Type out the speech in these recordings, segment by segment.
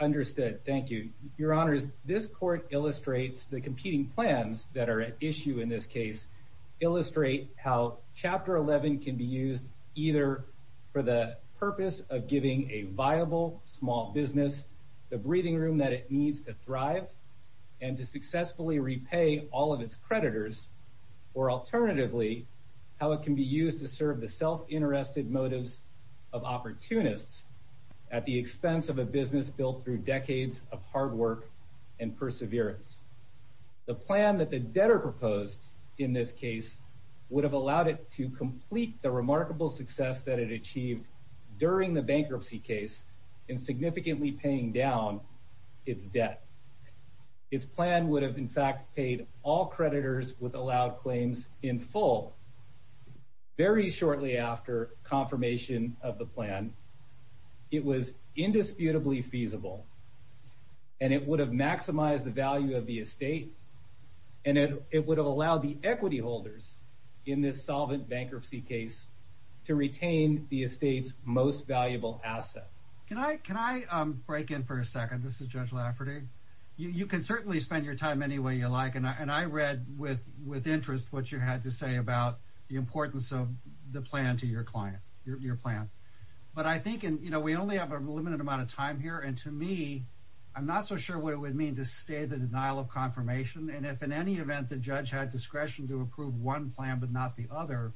Understood. Thank you, Your Honors. This court illustrates the competing plans that are at issue in this case illustrate how Chapter 11 can be used either for the purpose of giving a viable small business the breathing room that it needs to thrive and to successfully repay all of its creditors or alternatively how it can be used to serve the self-interested motives of opportunists at the expense of a business built through decades of hard work and perseverance. The plan that the debtor proposed in this case would have allowed it to complete the remarkable success that it achieved during the bankruptcy case in significantly paying down its debt. Its plan would have in fact paid all creditors with allowed claims in full very shortly after confirmation of the plan. It was indisputably feasible and it would have maximized the value of the estate and it would have allowed the equity holders in this solvent bankruptcy case to retain the estate's most valuable asset. Can I break in for a second? This is Judge Lafferty. You can certainly spend your time any way you like and I read with interest what you had to say about the importance of the plan to your client your plan but I think and you know we only have a limited amount of time here and to me I'm not so sure what it would mean to stay the denial of confirmation and if in any event the judge had discretion to approve one plan but not the other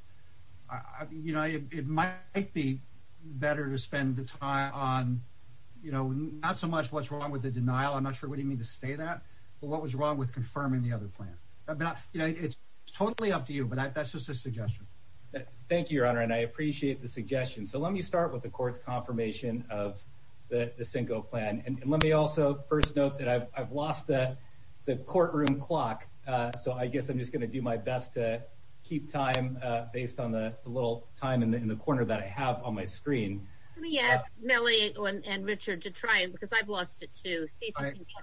you know it might be better to spend the time on you know not so much what's wrong with the denial I'm not sure what do you mean to stay that but what was wrong with confirming the other plan but you know it's totally up to you but that's just a suggestion. Thank you your honor and I appreciate the suggestion. So let me start with the court's confirmation of the Cinco plan and let me also first note that I've lost the courtroom clock so I guess I'm just going to do my best to keep time based on the little time in the corner that I have on my screen. Let me ask Millie and Richard to try it because I've lost it too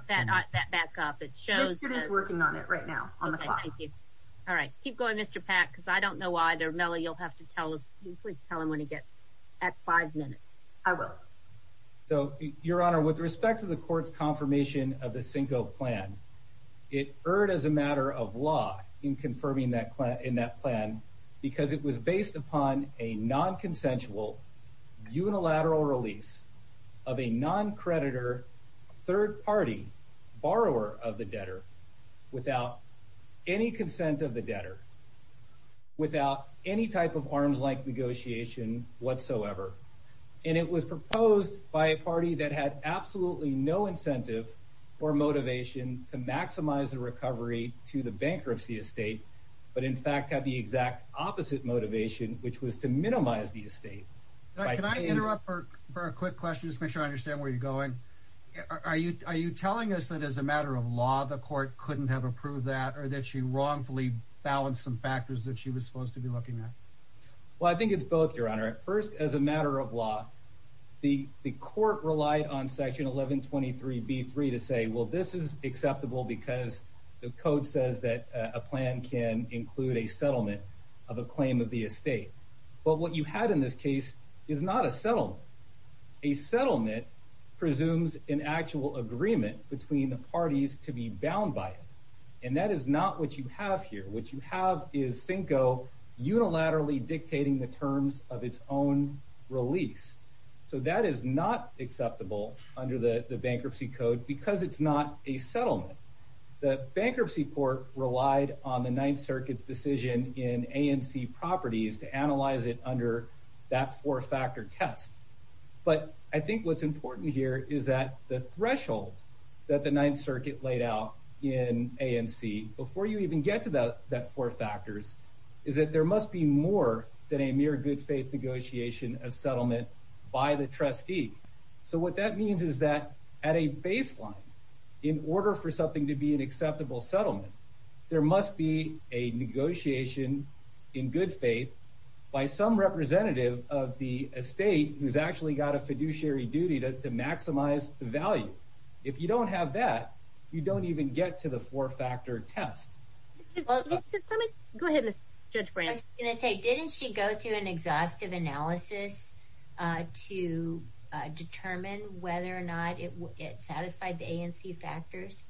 that back up it shows it is working on it right now on the clock thank you all right keep going Mr. Pack because I don't know why there Mellie you'll have to tell us please tell him when he gets at five minutes. I will. So your honor with respect to the court's confirmation of the Cinco plan it erred as a matter of law in confirming that plan in that plan because it was based upon a non-consensual unilateral release of a non-creditor third party borrower of the debtor without any consent of the debtor without any type of arms like negotiation whatsoever and it was proposed by a party that had absolutely no incentive or motivation to maximize the recovery to the bankruptcy estate but in fact had the exact opposite motivation which was to minimize the estate. Can I interrupt for a quick question just make sure I understand where you're going are you are you telling us that as a matter of law the court couldn't have approved that or that she wrongfully balanced some factors that she was supposed to be looking at? Well I think it's both your honor at first as a matter of law the the court relied on section 1123 b3 to say well this is acceptable because the code says that a plan can include a settlement of a claim of the estate but what you had in this case is not a settlement a settlement presumes an actual agreement between the parties to be bound by it and that is not what you have here what you have is Cinco unilaterally dictating the terms of its own release so that is not acceptable under the the bankruptcy code because it's not a settlement the bankruptcy court relied on the ninth circuit's decision in ANC properties to analyze it under that four-factor test but I think what's important here is that the threshold that the ninth circuit laid out in ANC before you even get to the that four factors is that there must be more than a mere good faith negotiation of settlement by the trustee so what that means is that at a baseline in order for something to be an acceptable settlement there must be a negotiation in good faith by some representative of the estate who's actually got a fiduciary duty to maximize the value if you don't have that you don't even get to the four-factor test well let's just let me go ahead miss judge branch i'm gonna say didn't she go through an exhaustive analysis to determine whether or not it satisfied the ANC factors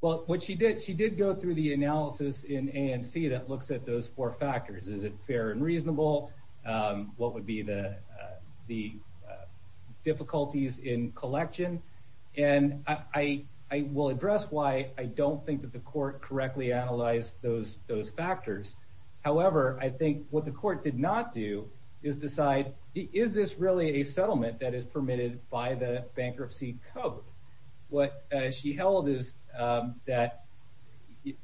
well what she did she did go through the analysis in ANC that looks at those four factors is it fair and reasonable what would be the the difficulties in collection and I will address why I don't think that the court correctly analyzed those those factors however I think what the court did not do is decide is this really a settlement that is permitted by the bankruptcy code what she held is that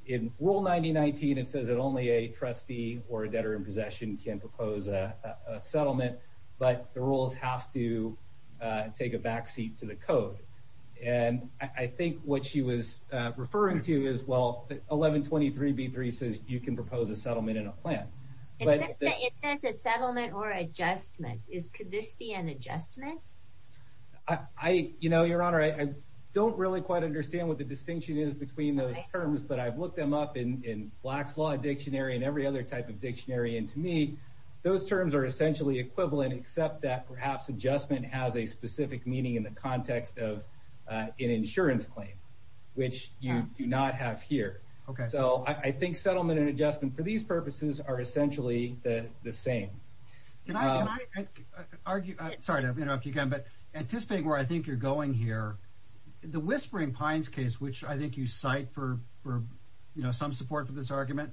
in rule 9019 it says that only a trustee or a debtor in possession can propose a settlement but the rules have to take a back seat to the code and I think what she was referring to is well 1123b3 says you can propose a settlement in a plan but it says a settlement or adjustment is could this be an adjustment I you know your honor I don't really quite understand what the distinction is between those terms but I've looked them up in in black's dictionary and every other type of dictionary and to me those terms are essentially equivalent except that perhaps adjustment has a specific meaning in the context of an insurance claim which you do not have here okay so I think settlement and adjustment for these purposes are essentially the the same can I argue sorry to interrupt you again but anticipating where I think you're going here the whispering pines case which I think you cite for for you know some support for this argument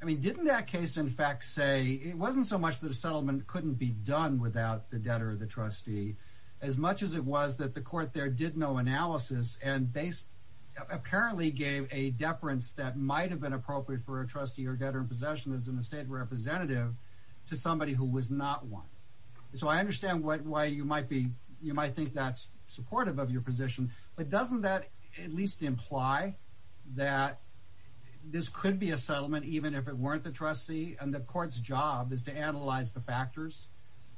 I mean didn't that case in fact say it wasn't so much that a settlement couldn't be done without the debtor the trustee as much as it was that the court there did no analysis and based apparently gave a deference that might have been appropriate for a trustee or debtor in possession as an estate representative to somebody who was not one so I understand what why you might be you might think that's supportive of your position but doesn't that at least imply that this could be a settlement even if it weren't the trustee and the court's job is to analyze the factors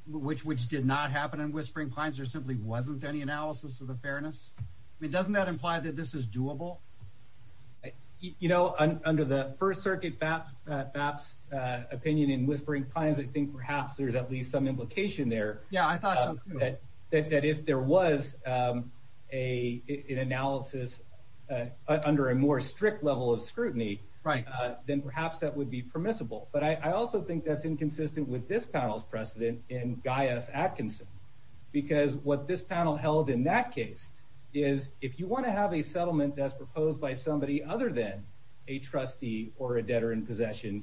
which which did not happen in whispering pines there simply wasn't any analysis of the fairness I mean doesn't that imply that this is doable you know under the first circuit that that's uh opinion in whispering pines I think perhaps there's at least some implication there yeah I thought that that if there was um a an analysis under a more strict level of scrutiny right then perhaps that would be permissible but I also think that's inconsistent with this panel's precedent in Gaius Atkinson because what this panel held in that case is if you want to have a settlement that's proposed by somebody other than a trustee or a debtor in possession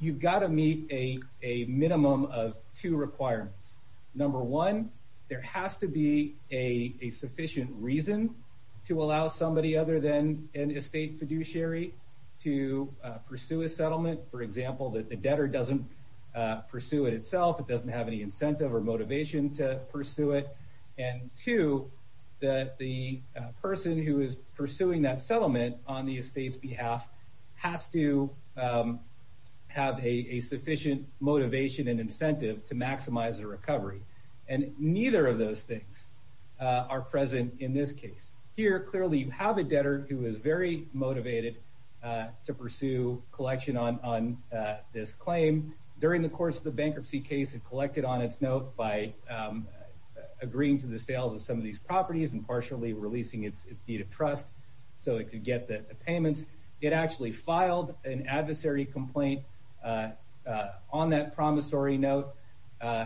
you've to meet a a minimum of two requirements number one there has to be a a sufficient reason to allow somebody other than an estate fiduciary to pursue a settlement for example that the debtor doesn't pursue it itself it doesn't have any incentive or motivation to pursue it and two that the sufficient motivation and incentive to maximize the recovery and neither of those things are present in this case here clearly you have a debtor who is very motivated to pursue collection on on this claim during the course of the bankruptcy case and collected on its note by agreeing to the sales of some of these properties and partially releasing its deed of trust so it could get the payments it actually filed an adversary complaint on that promissory note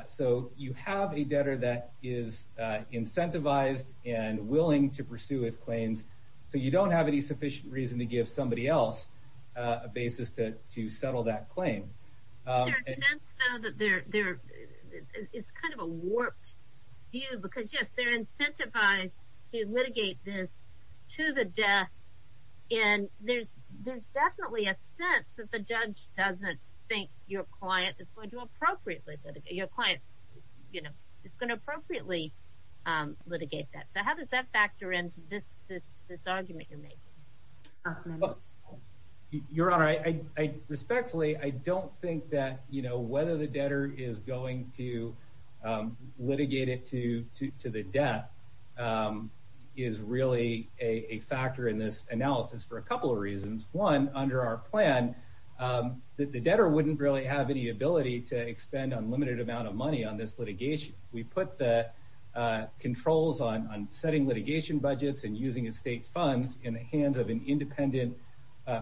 so you have a debtor that is incentivized and willing to pursue its claims so you don't have any sufficient reason to give somebody else a basis to to settle that claim there's a sense though that they're there it's kind of a warped view because yes they're incentivized to litigate this to the death and there's there's definitely a sense that the judge doesn't think your client is going to appropriately litigate your client you know it's going to appropriately litigate that so how does that factor into this this this argument you're making your honor i i respectfully i don't think that you know whether the debtor is going to litigate it to to the death is really a factor in this analysis for a couple of reasons one under our plan the debtor wouldn't really have any ability to expend unlimited amount of money on this litigation we put the controls on on setting litigation budgets and using estate funds in the hands of an independent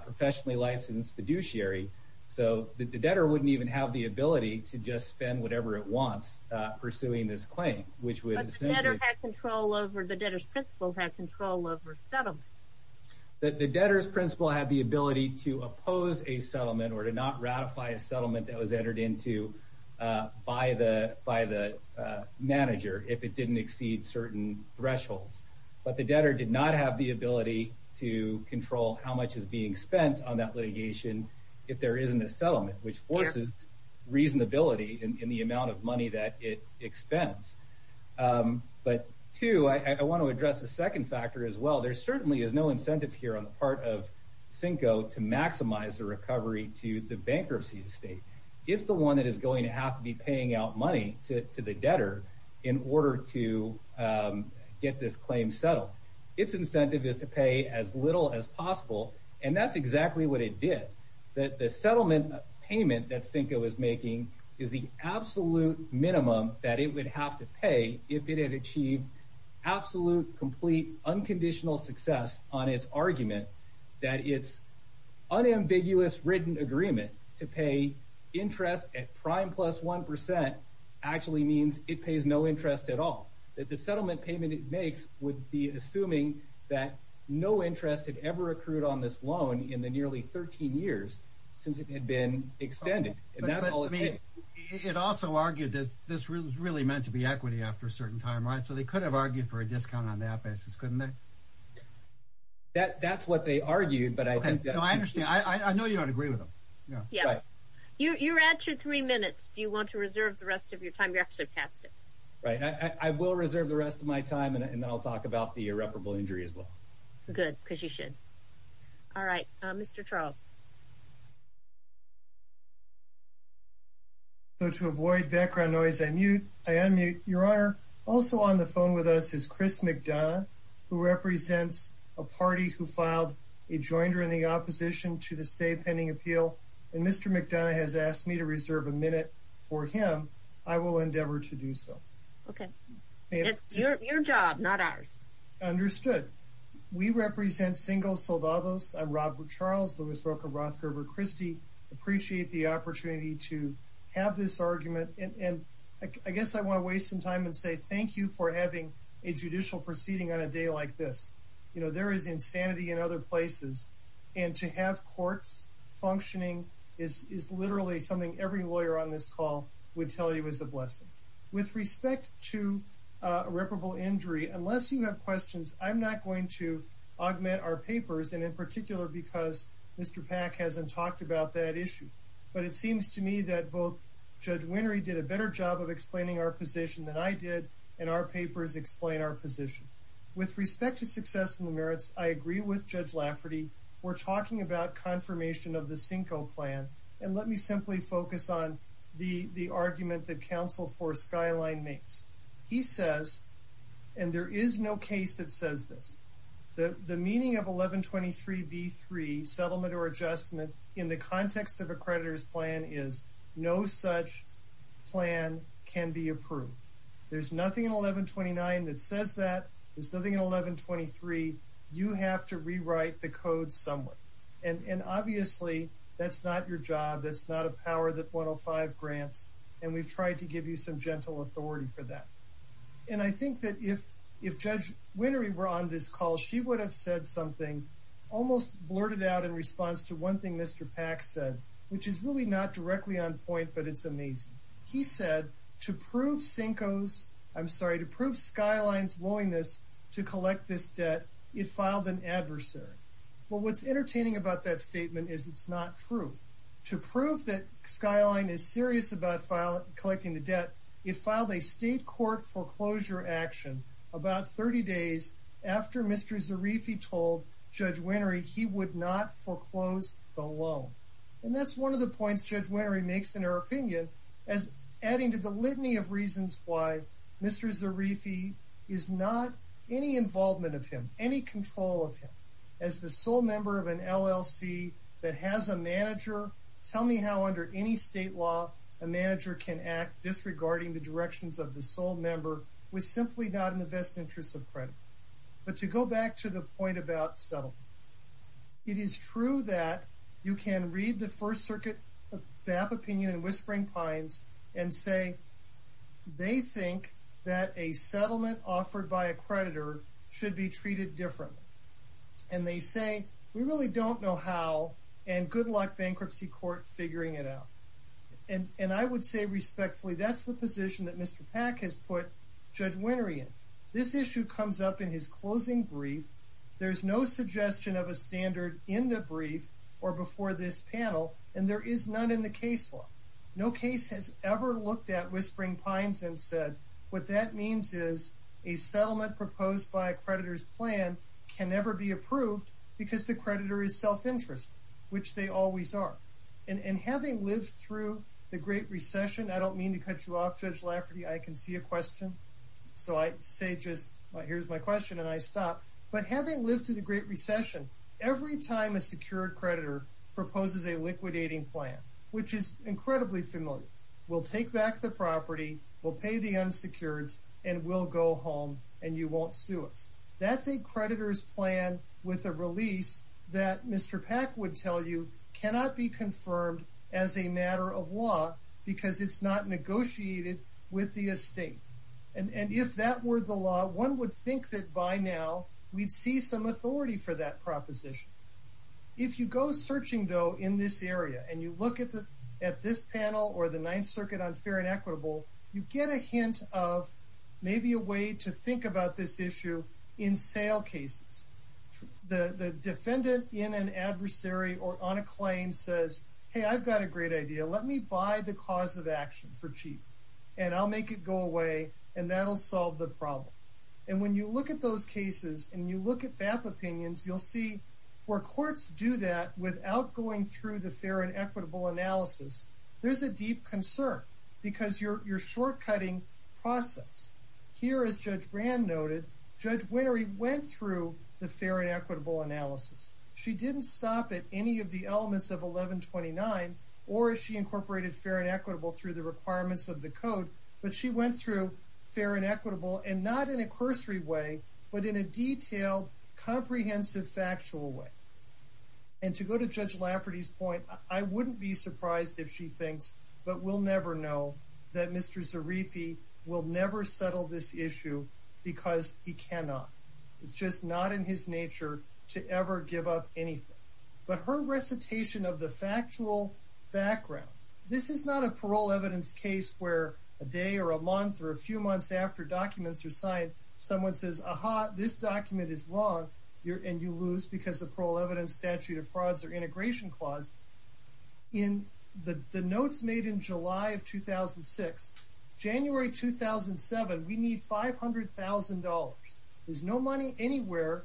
professionally licensed fiduciary so the debtor wouldn't even have the ability to just spend whatever it wants uh pursuing this claim which would have control over the debtor's principle have control over settlement that the debtor's principle had the ability to oppose a settlement or to not ratify a settlement that was entered into uh by the by the manager if it didn't exceed certain thresholds but the debtor did not have the ability to control how much is being spent on that litigation if there isn't a settlement which forces reasonability in the amount of money that it expends but two i want to address a second factor as well there certainly is no incentive here on the part of cinco to maximize the recovery to the bankruptcy estate it's the one that is going to have to be paying out money to the debtor in order to um get this claim settled its incentive is to pay as little as possible and that's exactly what it did that the settlement payment that cinco is making is the absolute minimum that it would have to pay if it had achieved absolute complete unconditional success on its argument that its unambiguous written agreement to pay interest at prime plus one percent actually means it pays no interest at all that the settlement payment it makes would be assuming that no interest had ever accrued on this loan in the nearly 13 years since it had been extended and that's all it made it also argued that this was really meant to be equity after a certain time right so they could have argued for a discount on that basis couldn't they that that's what they argued but i think that i understand i i know you don't agree yeah you you're at your three minutes do you want to reserve the rest of your time you're actually past it right i i will reserve the rest of my time and then i'll talk about the irreparable injury as well good because you should all right uh mr charles so to avoid background noise i mute i unmute your honor also on the phone with us is chris mcdonough who represents a party who filed a joinder in the opposition to the state pending appeal and mr mcdonough has asked me to reserve a minute for him i will endeavor to do so okay it's your job not ours understood we represent single soldados i'm robert charles louis brooker rothger over christy appreciate the opportunity to have this argument and i guess i want to thank you for having a judicial proceeding on a day like this you know there is insanity in other places and to have courts functioning is is literally something every lawyer on this call would tell you is a blessing with respect to irreparable injury unless you have questions i'm not going to augment our papers and in particular because mr pack hasn't talked about that issue but it seems to me that both judge winry did a better job of explaining our position than i did and our papers explain our position with respect to success in the merits i agree with judge lafferty we're talking about confirmation of the cinco plan and let me simply focus on the the argument that counsel for skyline makes he says and there is no case that says this the the meaning of 11 23 b3 settlement or adjustment in the context of a creditor's plan is no such plan can be approved there's nothing in 11 29 that says that there's nothing in 11 23 you have to rewrite the code somewhere and and obviously that's not your job that's not a power that 105 grants and we've tried to give you some gentle authority for that and i think that if if judge winry were on this call she would have said something almost blurted out in response to one thing mr pack said which is really not directly on point but it's amazing he said to prove cinco's i'm sorry to prove skyline's willingness to collect this debt it filed an adversary well what's entertaining about that statement is it's not true to prove that skyline is serious about file collecting the debt it filed a state court foreclosure action about 30 days after mr zarifi told judge winry he would not foreclose the loan and that's one of the points judge winry makes in her opinion as adding to the litany of reasons why mr zarifi is not any involvement of him any control of him as the sole member of an llc that has a manager tell me how under any state law a manager can act disregarding the directions of the sole member was simply not in the best interest of credit but to go back to the point about settlement it is true that you can read the first circuit BAP opinion and whispering pines and say they think that a settlement offered by a creditor should be treated differently and they say we really don't know how and good luck bankruptcy court figuring it out and and i would say respectfully that's the position that mr pack has put judge winry in this issue comes up in his closing brief there's no suggestion of a standard in the brief or before this panel and there is none in the case law no case has ever looked at whispering pines and said what that means is a settlement proposed by a creditor's plan can never be approved because the creditor is self-interest which they always are and having lived through the great recession i don't mean to cut you off judge lafferty i can see a question so i say just here's my question and i stop but having lived through the great recession every time a secured creditor proposes a liquidating plan which is incredibly familiar we'll take back the property we'll pay the that mr pack would tell you cannot be confirmed as a matter of law because it's not negotiated with the estate and and if that were the law one would think that by now we'd see some authority for that proposition if you go searching though in this area and you look at the at this panel or the ninth circuit on fair and equitable you get a hint of maybe a way to think about this issue in sale cases the the defendant in an adversary or on a claim says hey i've got a great idea let me buy the cause of action for cheap and i'll make it go away and that'll solve the problem and when you look at those cases and you look at BAP opinions you'll see where courts do that without going through the fair and equitable analysis there's a deep concern because you're short cutting process here as judge brand noted judge winery went through the fair and equitable analysis she didn't stop at any of the elements of 1129 or if she incorporated fair and equitable through the requirements of the code but she went through fair and equitable and not in a cursory way but in a detailed comprehensive factual way and to go to judge lafferty's point i wouldn't be will never settle this issue because he cannot it's just not in his nature to ever give up anything but her recitation of the factual background this is not a parole evidence case where a day or a month or a few months after documents are signed someone says aha this document is wrong you're and you lose because the parole evidence statute of frauds or integration clause in the the notes made in july of 2006 january 2007 we need five hundred thousand dollars there's no money anywhere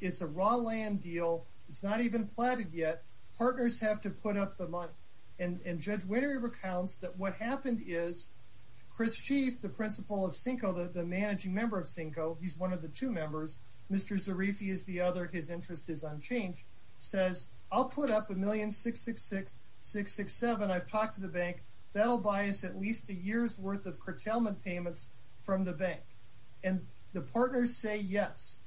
it's a raw land deal it's not even platted yet partners have to put up the money and and judge winery recounts that what happened is chris sheath the principal of cinco the managing member of cinco he's one of the two members mr zarifi is the other his interest is says i'll put up a million six six six six six seven i've talked to the bank that'll buy us at least a year's worth of curtailment payments from the bank and the partners say yes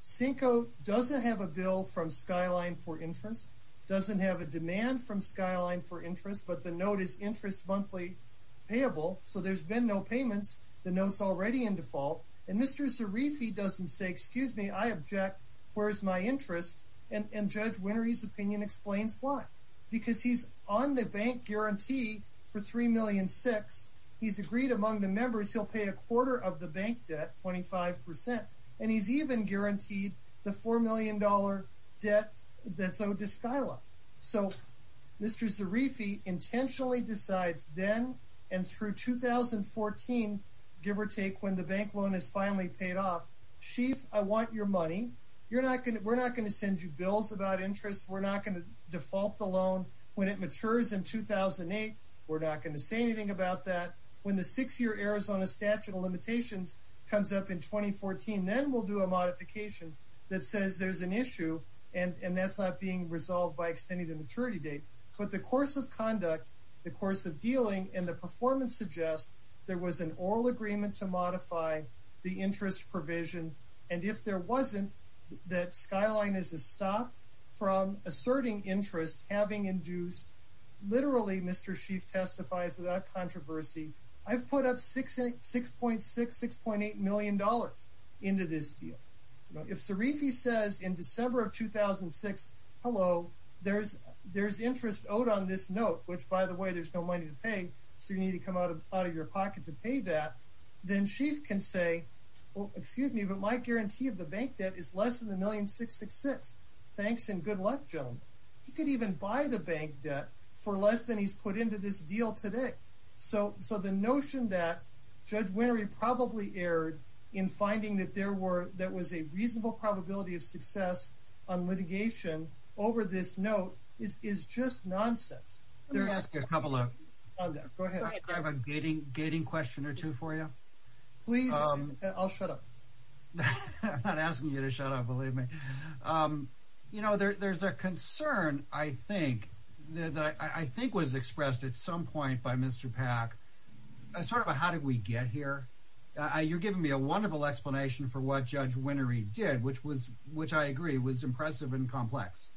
cinco doesn't have a bill from skyline for interest doesn't have a demand from skyline for interest but the note is interest monthly payable so there's been no payments the notes already in default and mr zarifi doesn't say excuse me i object where's my interest and and judge winery's opinion explains why because he's on the bank guarantee for three million six he's agreed among the members he'll pay a quarter of the bank debt 25 and he's even guaranteed the four million dollar debt that's owed to skyla so mr zarifi intentionally decides then and through 2014 give or take when the bank loan has finally paid off sheath i want your money you're not going to we're not going to send you bills about interest we're not going to default the loan when it matures in 2008 we're not going to say anything about that when the six-year arizona statute of limitations comes up in 2014 then we'll do a modification that says there's an issue and and that's not being resolved by extending the maturity date but the course of conduct the course of dealing and the performance suggests there was an oral agreement to modify the interest provision and if there wasn't that skyline is a stop from asserting interest having induced literally mr sheath testifies without controversy i've put up six six point six six point eight million dollars into this deal if sarifi says in december of 2006 hello there's there's interest owed on this note which by the way there's no money to pay so you need to come out of out of your pocket to pay that then she can say well excuse me but my guarantee of the bank debt is less than a million six six cents thanks and good luck joan he could even buy the bank debt for less than he's put into this deal today so so the notion that judge winery probably erred in finding that there were that was a probability of success on litigation over this note is is just nonsense there's a couple of gating question or two for you please i'll shut up i'm not asking you to shut up believe me um you know there's a concern i think that i i think was expressed at some point by mr pack sort of a how did we get here uh you're giving me a wonderful explanation for what judge winery did which was which i agree was impressive and complex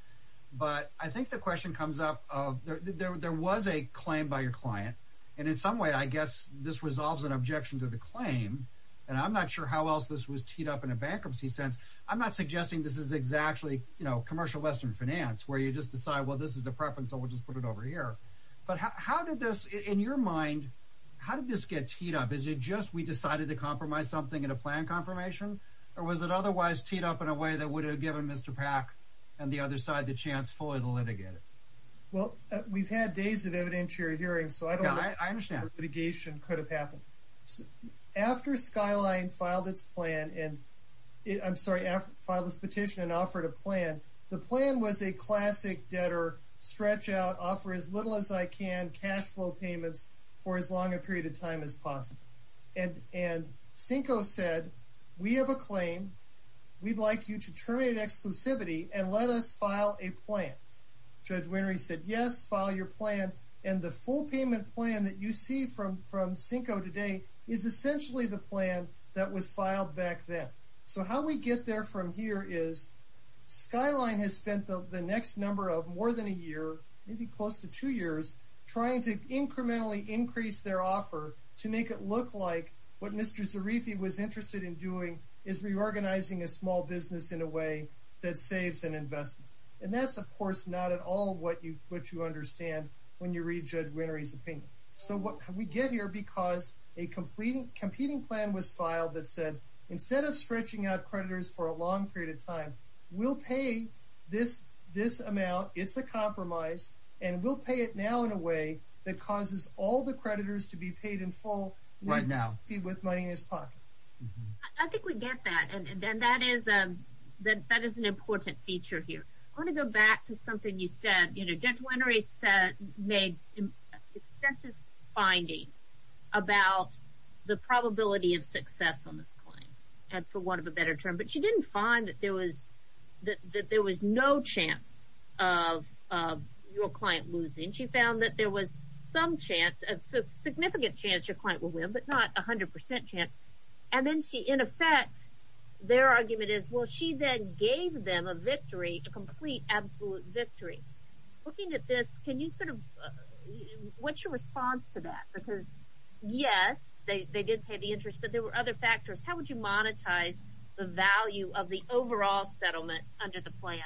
but i think the question comes up of there was a claim by your client and in some way i guess this resolves an objection to the claim and i'm not sure how else this was teed up in a bankruptcy sense i'm not suggesting this is exactly you know commercial western finance where you just decide well this is a preference so we'll just put it here but how did this in your mind how did this get teed up is it just we decided to compromise something in a plan confirmation or was it otherwise teed up in a way that would have given mr pack and the other side the chance for the litigator well we've had days of evidentiary hearings so i don't know i understand litigation could have happened after skyline filed its plan and i'm sorry after file this petition and offered a plan the plan was a classic debtor stretch out offer as little as i can cash flow payments for as long a period of time as possible and and cinco said we have a claim we'd like you to terminate exclusivity and let us file a plan judge winery said yes file your plan and the full payment plan that you see from from cinco today is essentially the plan that was filed back then so how we get there from here is skyline has spent the next number of more than a year maybe close to two years trying to incrementally increase their offer to make it look like what mr zarifi was interested in doing is reorganizing a small business in a way that saves an investment and that's of course not at all what you what you understand when you read judge winery's opinion so what we get here because a completing competing plan was filed that said instead of stretching out creditors for a long period of time we'll pay this this amount it's a compromise and we'll pay it now in a way that causes all the creditors to be paid in full right now with money in his pocket i think we get that and then that is a that that is an important feature here i want to go back to something you said you know judge winery said made extensive findings about the probability of success on this claim and for didn't find that there was that there was no chance of of your client losing she found that there was some chance a significant chance your client will win but not a hundred percent chance and then she in effect their argument is well she then gave them a victory a complete absolute victory looking at this can you sort of what's your response to that because yes they they did the interest but there were other factors how would you monetize the value of the overall settlement under the plan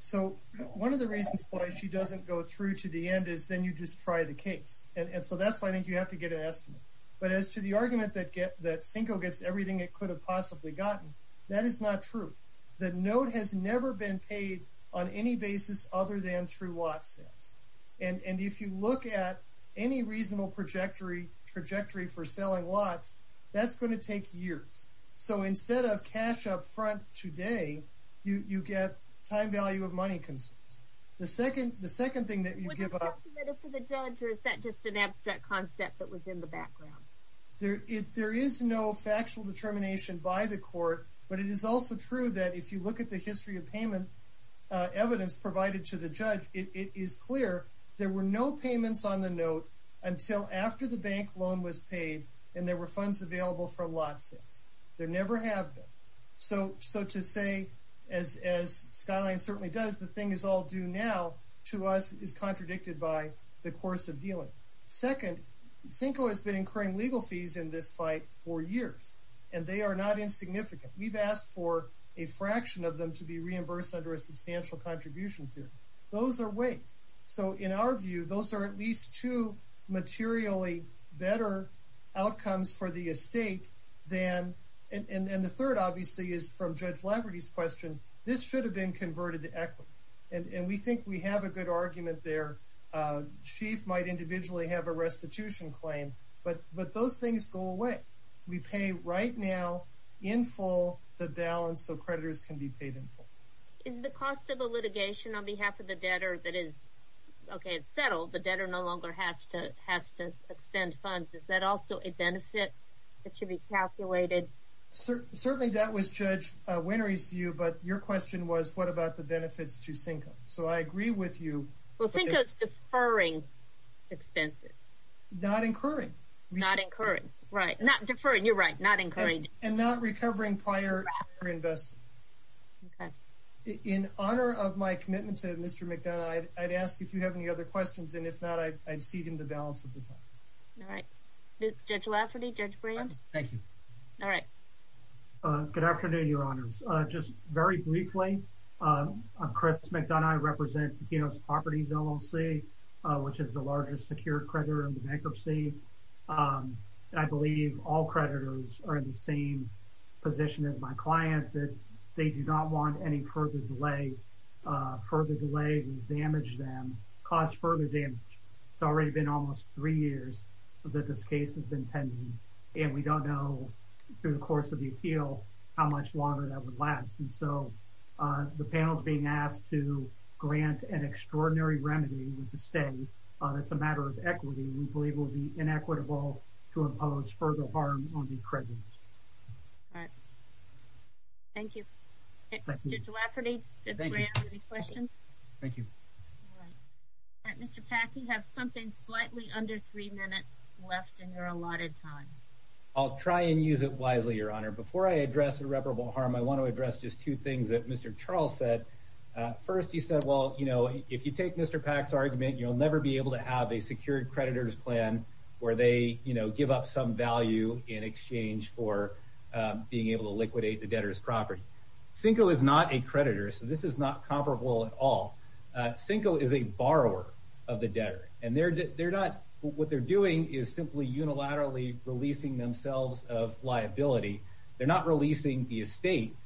so one of the reasons why she doesn't go through to the end is then you just try the case and so that's why i think you have to get an estimate but as to the argument that get that cinco gets everything it could have possibly gotten that is not true the note has never been paid on any basis other than through lot sales and and if you look at any reasonable trajectory trajectory for selling lots that's going to take years so instead of cash up front today you you get time value of money concerns the second the second thing that you give up or is that just an abstract concept that was in the background there if there is no factual determination by the court but it is also true that if you look at the history of payment evidence provided to the judge it is clear there were no payments on the note until after the bank loan was paid and there were funds available from lots there never have been so so to say as as skyline certainly does the thing is all due now to us is contradicted by the course of dealing second cinco has been incurring legal fees in this fight for years and they are not insignificant we've asked for a fraction of them to be reimbursed under a substantial contribution period those are way so in our view those are at least two materially better outcomes for the estate than and and the third obviously is from judge labrador's question this should have been converted to equity and and we think we have a good argument there uh chief might individually have a restitution claim but but those things go away we pay right now in full the balance so creditors can be paid in full is the cost of the litigation on behalf of the debtor that is okay it's settled the debtor no longer has to has to expend funds is that also a benefit that should be calculated certainly that was judge winery's view but your question was what about the not incurring not incurring right not deferring you're right not encouraging and not recovering prior or investing okay in honor of my commitment to mr mcdonough i'd ask if you have any other questions and if not i'd see him the balance of the time all right it's judge lafferty judge brand thank you all right uh good afternoon your honors uh just very briefly um chris mcdonough represent pino's properties loc uh which is the largest secure creditor in bankruptcy um i believe all creditors are in the same position as my client that they do not want any further delay uh further delay would damage them cause further damage it's already been almost three years that this case has been pending and we don't know through the course of the appeal how much longer that would last and so uh the panel's being asked to grant an extraordinary remedy with the state uh that's a matter of equity we believe will be inequitable to impose further harm on the creditors all right thank you thank you all right mr pack you have something slightly under three minutes left in your allotted time i'll try and use it wisely your honor before i address irreparable harm i want to address just two things that mr charles said uh first he said well you know if you take mr pack's argument you'll never be able to have a secured creditor's plan where they you know give up some value in exchange for being able to liquidate the debtor's property cinco is not a creditor so this is not comparable at all uh cinco is a borrower of the debtor and they're not what they're doing is simply unilaterally releasing themselves of liability they're not releasing the estate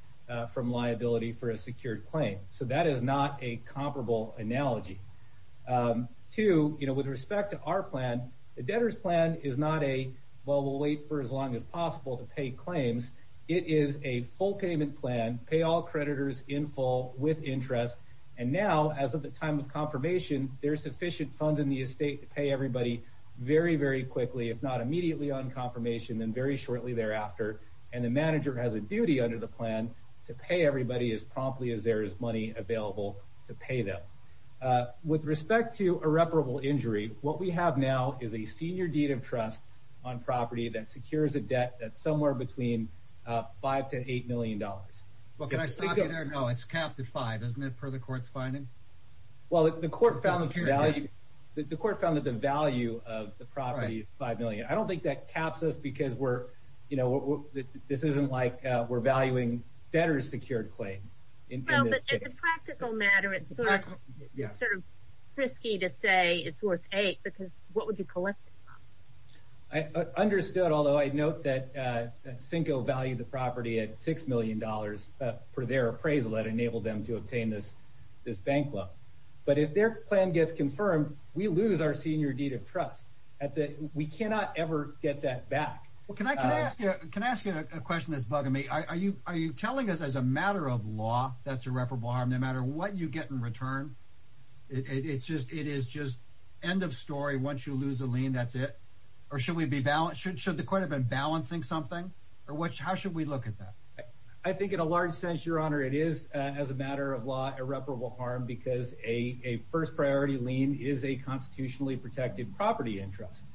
from liability for a secured claim so that is not a comparable analogy two you know with respect to our plan the debtor's plan is not a well we'll wait for as long as possible to pay claims it is a full payment plan pay all creditors in full with interest and now as of the time of confirmation there's sufficient funds in the estate to pay everybody very very quickly if not immediately on confirmation then very shortly thereafter and the manager has a duty under the plan to pay everybody as promptly as there is money available to pay them uh with respect to irreparable injury what we have now is a senior deed of trust on property that secures a debt that's somewhere between uh five to eight million dollars well can the court's finding well the court found the value the court found that the value of the property five million i don't think that caps us because we're you know this isn't like uh we're valuing debtor's secured claim well but it's a practical matter it's sort of sort of risky to say it's worth eight because what would you collect i understood although i note that uh cinco valued the property at six million dollars uh for their appraisal that enabled them to obtain this this bank loan but if their plan gets confirmed we lose our senior deed of trust at the we cannot ever get that back well can i can i ask you can i ask you a question that's bugging me are you are you telling us as a matter of law that's irreparable harm no matter what you get in return it's just it is just end of story once you lose a lien that's it or should we be balanced should should the court have been balancing something or what how should we look at that i think in a large sense your honor it is as a matter of law irreparable harm because a a first priority lien is a constitutionally protected property interest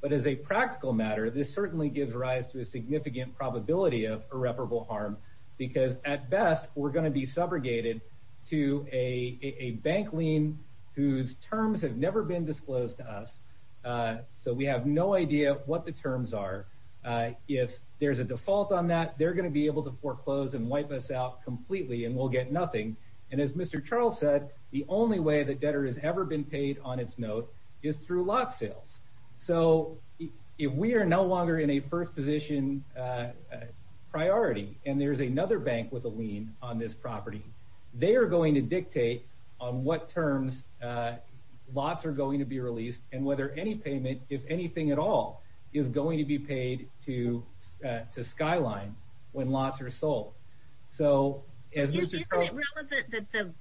but as a practical matter this certainly gives rise to a significant probability of irreparable harm because at best we're going to be subrogated to a a bank lien whose terms have never been disclosed to us so we have no idea what the terms are uh if there's a default on that they're going to be able to foreclose and wipe us out completely and we'll get nothing and as mr charles said the only way that debtor has ever been paid on its note is through lot sales so if we are no longer in a first position uh priority and there's another bank with a lien on this property they are going to dictate on what terms uh lots are going to be released and whether any payment if anything at all is going to be paid to uh to skyline when lots are sold so isn't it relevant that the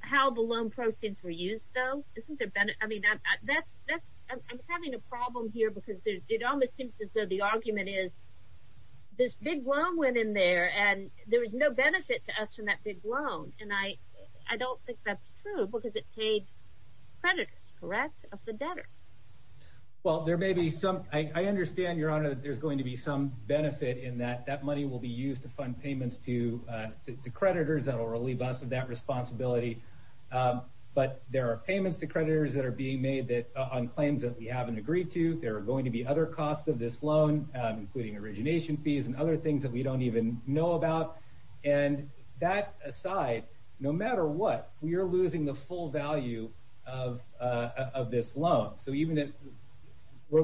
how the loan proceeds were used though isn't there benefit i mean that that's that's i'm having a problem here because there's it almost seems as though the argument is this big loan went in there and there was no benefit to us from that big loan and i i don't think that's true because it paid creditors correct of the debtor well there may be some i i understand your honor that there's going to be some benefit in that that money will be used to fund payments to uh to creditors that will relieve us of that responsibility um but there are payments to creditors that are being made that on claims that we haven't agreed to there are going to be other costs of this loan including origination fees and other things that we don't even know about and that aside no matter what we are losing the full value of uh of this loan so even if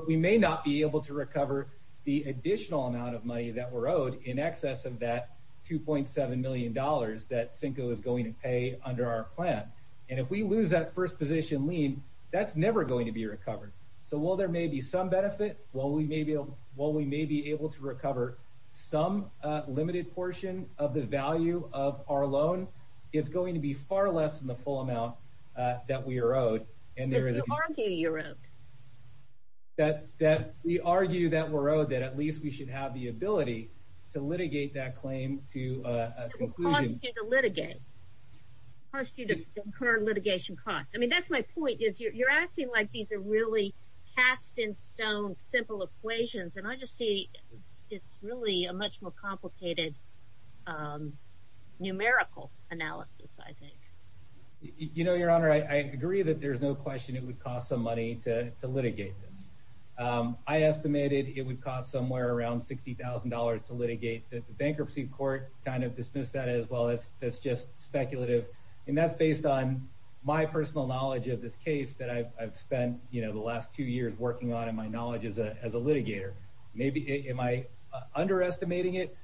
we may not be able to recover the additional amount of money that we're owed in excess of that 2.7 million dollars that cinco is going to pay under our plan and if we lose that first position lien that's never going to be recovered so while there may be some benefit while we may be able while we may be able to far less than the full amount uh that we are owed and there is argue you wrote that that we argue that we're owed that at least we should have the ability to litigate that claim to uh cost you to litigate cost you to incur litigation cost i mean that's my point is you're acting like these are really cast in stone simple equations and i just see it's really a much more complicated um numerical analysis i think you know your honor i agree that there's no question it would cost some money to to litigate this um i estimated it would cost somewhere around 60 000 to litigate the bankruptcy court kind of dismissed that as well as that's just speculative and that's based on my personal knowledge of this case that i've spent you know the last two years working on in my knowledge as a litigator maybe am i underestimating it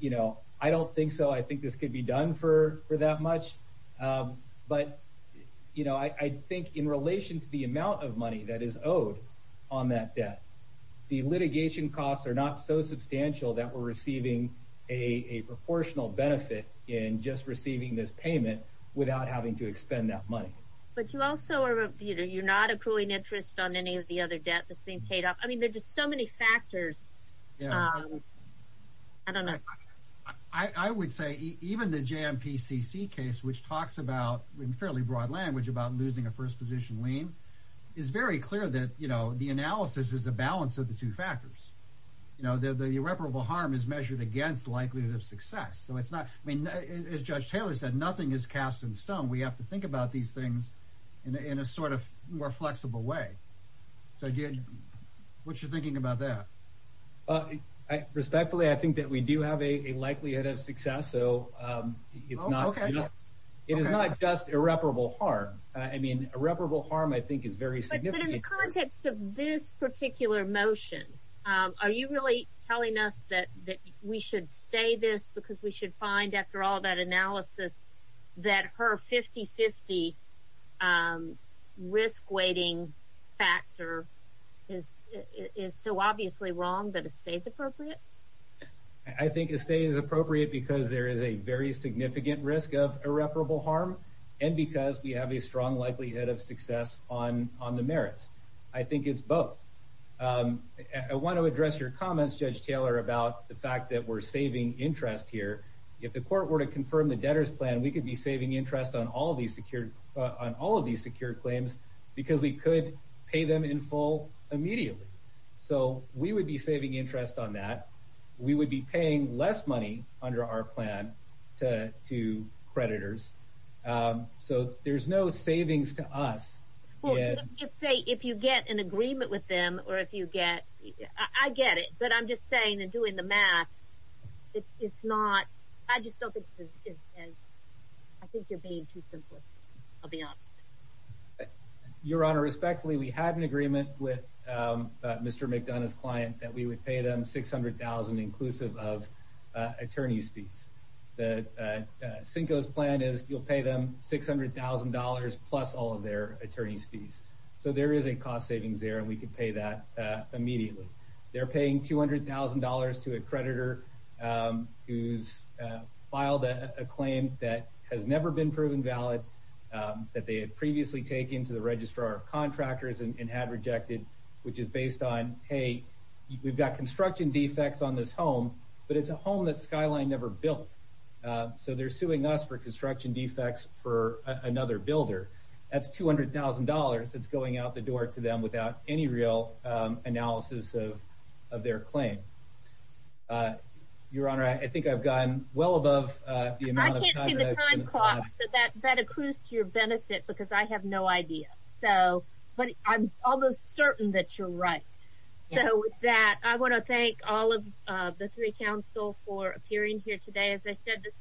you know i don't think so i think this could be done for for that much um but you know i think in relation to the amount of money that is owed on that debt the litigation costs are not so substantial that we're receiving a a proportional benefit in just receiving this payment without having to expend that money but you also are you know you're not accruing interest on any of the other debt that's being paid off i mean there's just so many factors um i don't know i i would say even the jmpcc case which talks about in fairly broad language about losing a first position lien is very clear that you know the analysis is a balance of the two factors you know the irreparable harm is measured against the likelihood of success so it's not i mean as judge taylor said nothing is cast in stone we have to think about these things in a sort of more flexible way so again what's your thinking about that uh i respectfully i think that we do have a likelihood of success so um it's not okay it is not just irreparable harm i mean irreparable harm i think is very significant in the context of this particular motion um are you really telling us that that we should stay this because we should find after all that analysis that her 50 50 um risk weighting factor is is so obviously wrong that it stays appropriate i think it stays appropriate because there is a very significant risk of irreparable harm and because we have a strong likelihood of success on on the merits i think it's both um i want to address your comments judge taylor about the fact that we're saving interest here if the court were to confirm the debtor's plan we could be saving interest on all these secured on all of these secured claims because we could pay them in full immediately so we would be saving interest on that we would be paying less money under our plan to to creditors um so there's no savings to us well if you get an agreement with them or if you get i get it but i'm just saying and doing the math it's not i just don't think this is i think you're being too simplistic i'll be honest your honor respectfully we had an agreement with mr mcdonough's client that we would pay them 600 000 inclusive of attorney's fees the sinko's plan is you'll pay them 600 000 plus all of their attorney's fees so there is a cost savings there and we could pay that immediately they're paying 200 000 to a creditor who's filed a claim that has never been proven valid that they had previously taken to the registrar of contractors and had rejected which is based on hey we've got construction defects on this home but it's a home that skyline never built so they're suing us for construction defects for another builder that's 200 000 that's going out the door to them without any real analysis of of their claim uh your honor i think i've gone well above uh the amount of time so that that accrues to your benefit because i have no idea so but i'm almost certain that you're right so with that i want to thank all of uh the three council for appearing here today as i said this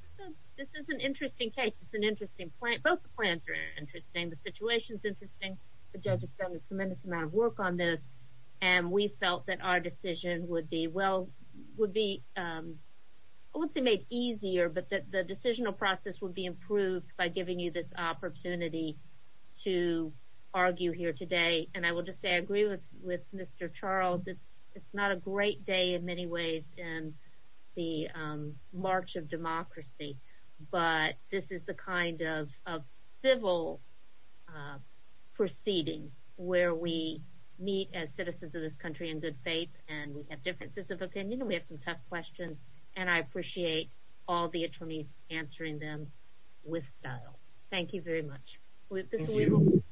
this is an interesting case it's an interesting plan both the plans are interesting the situation is interesting the judge has done a tremendous amount of work on this and we felt that our decision would be well would be um i wouldn't say made easier but that the decisional process would be improved by giving you this opportunity to argue here today and i will just say i agree with with mr charles it's not a great day in many ways in the march of democracy but this is the kind of of civil proceeding where we meet as citizens of this country in good faith and we have differences of opinion we have some tough questions and i appreciate all the attorneys answering them with style thank you very much thank you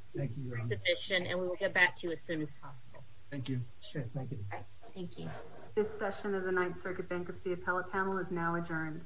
your submission and we will get back to you as soon as possible thank you sure thank you all right thank you this session of the ninth circuit bankruptcy appellate panel is now adjourned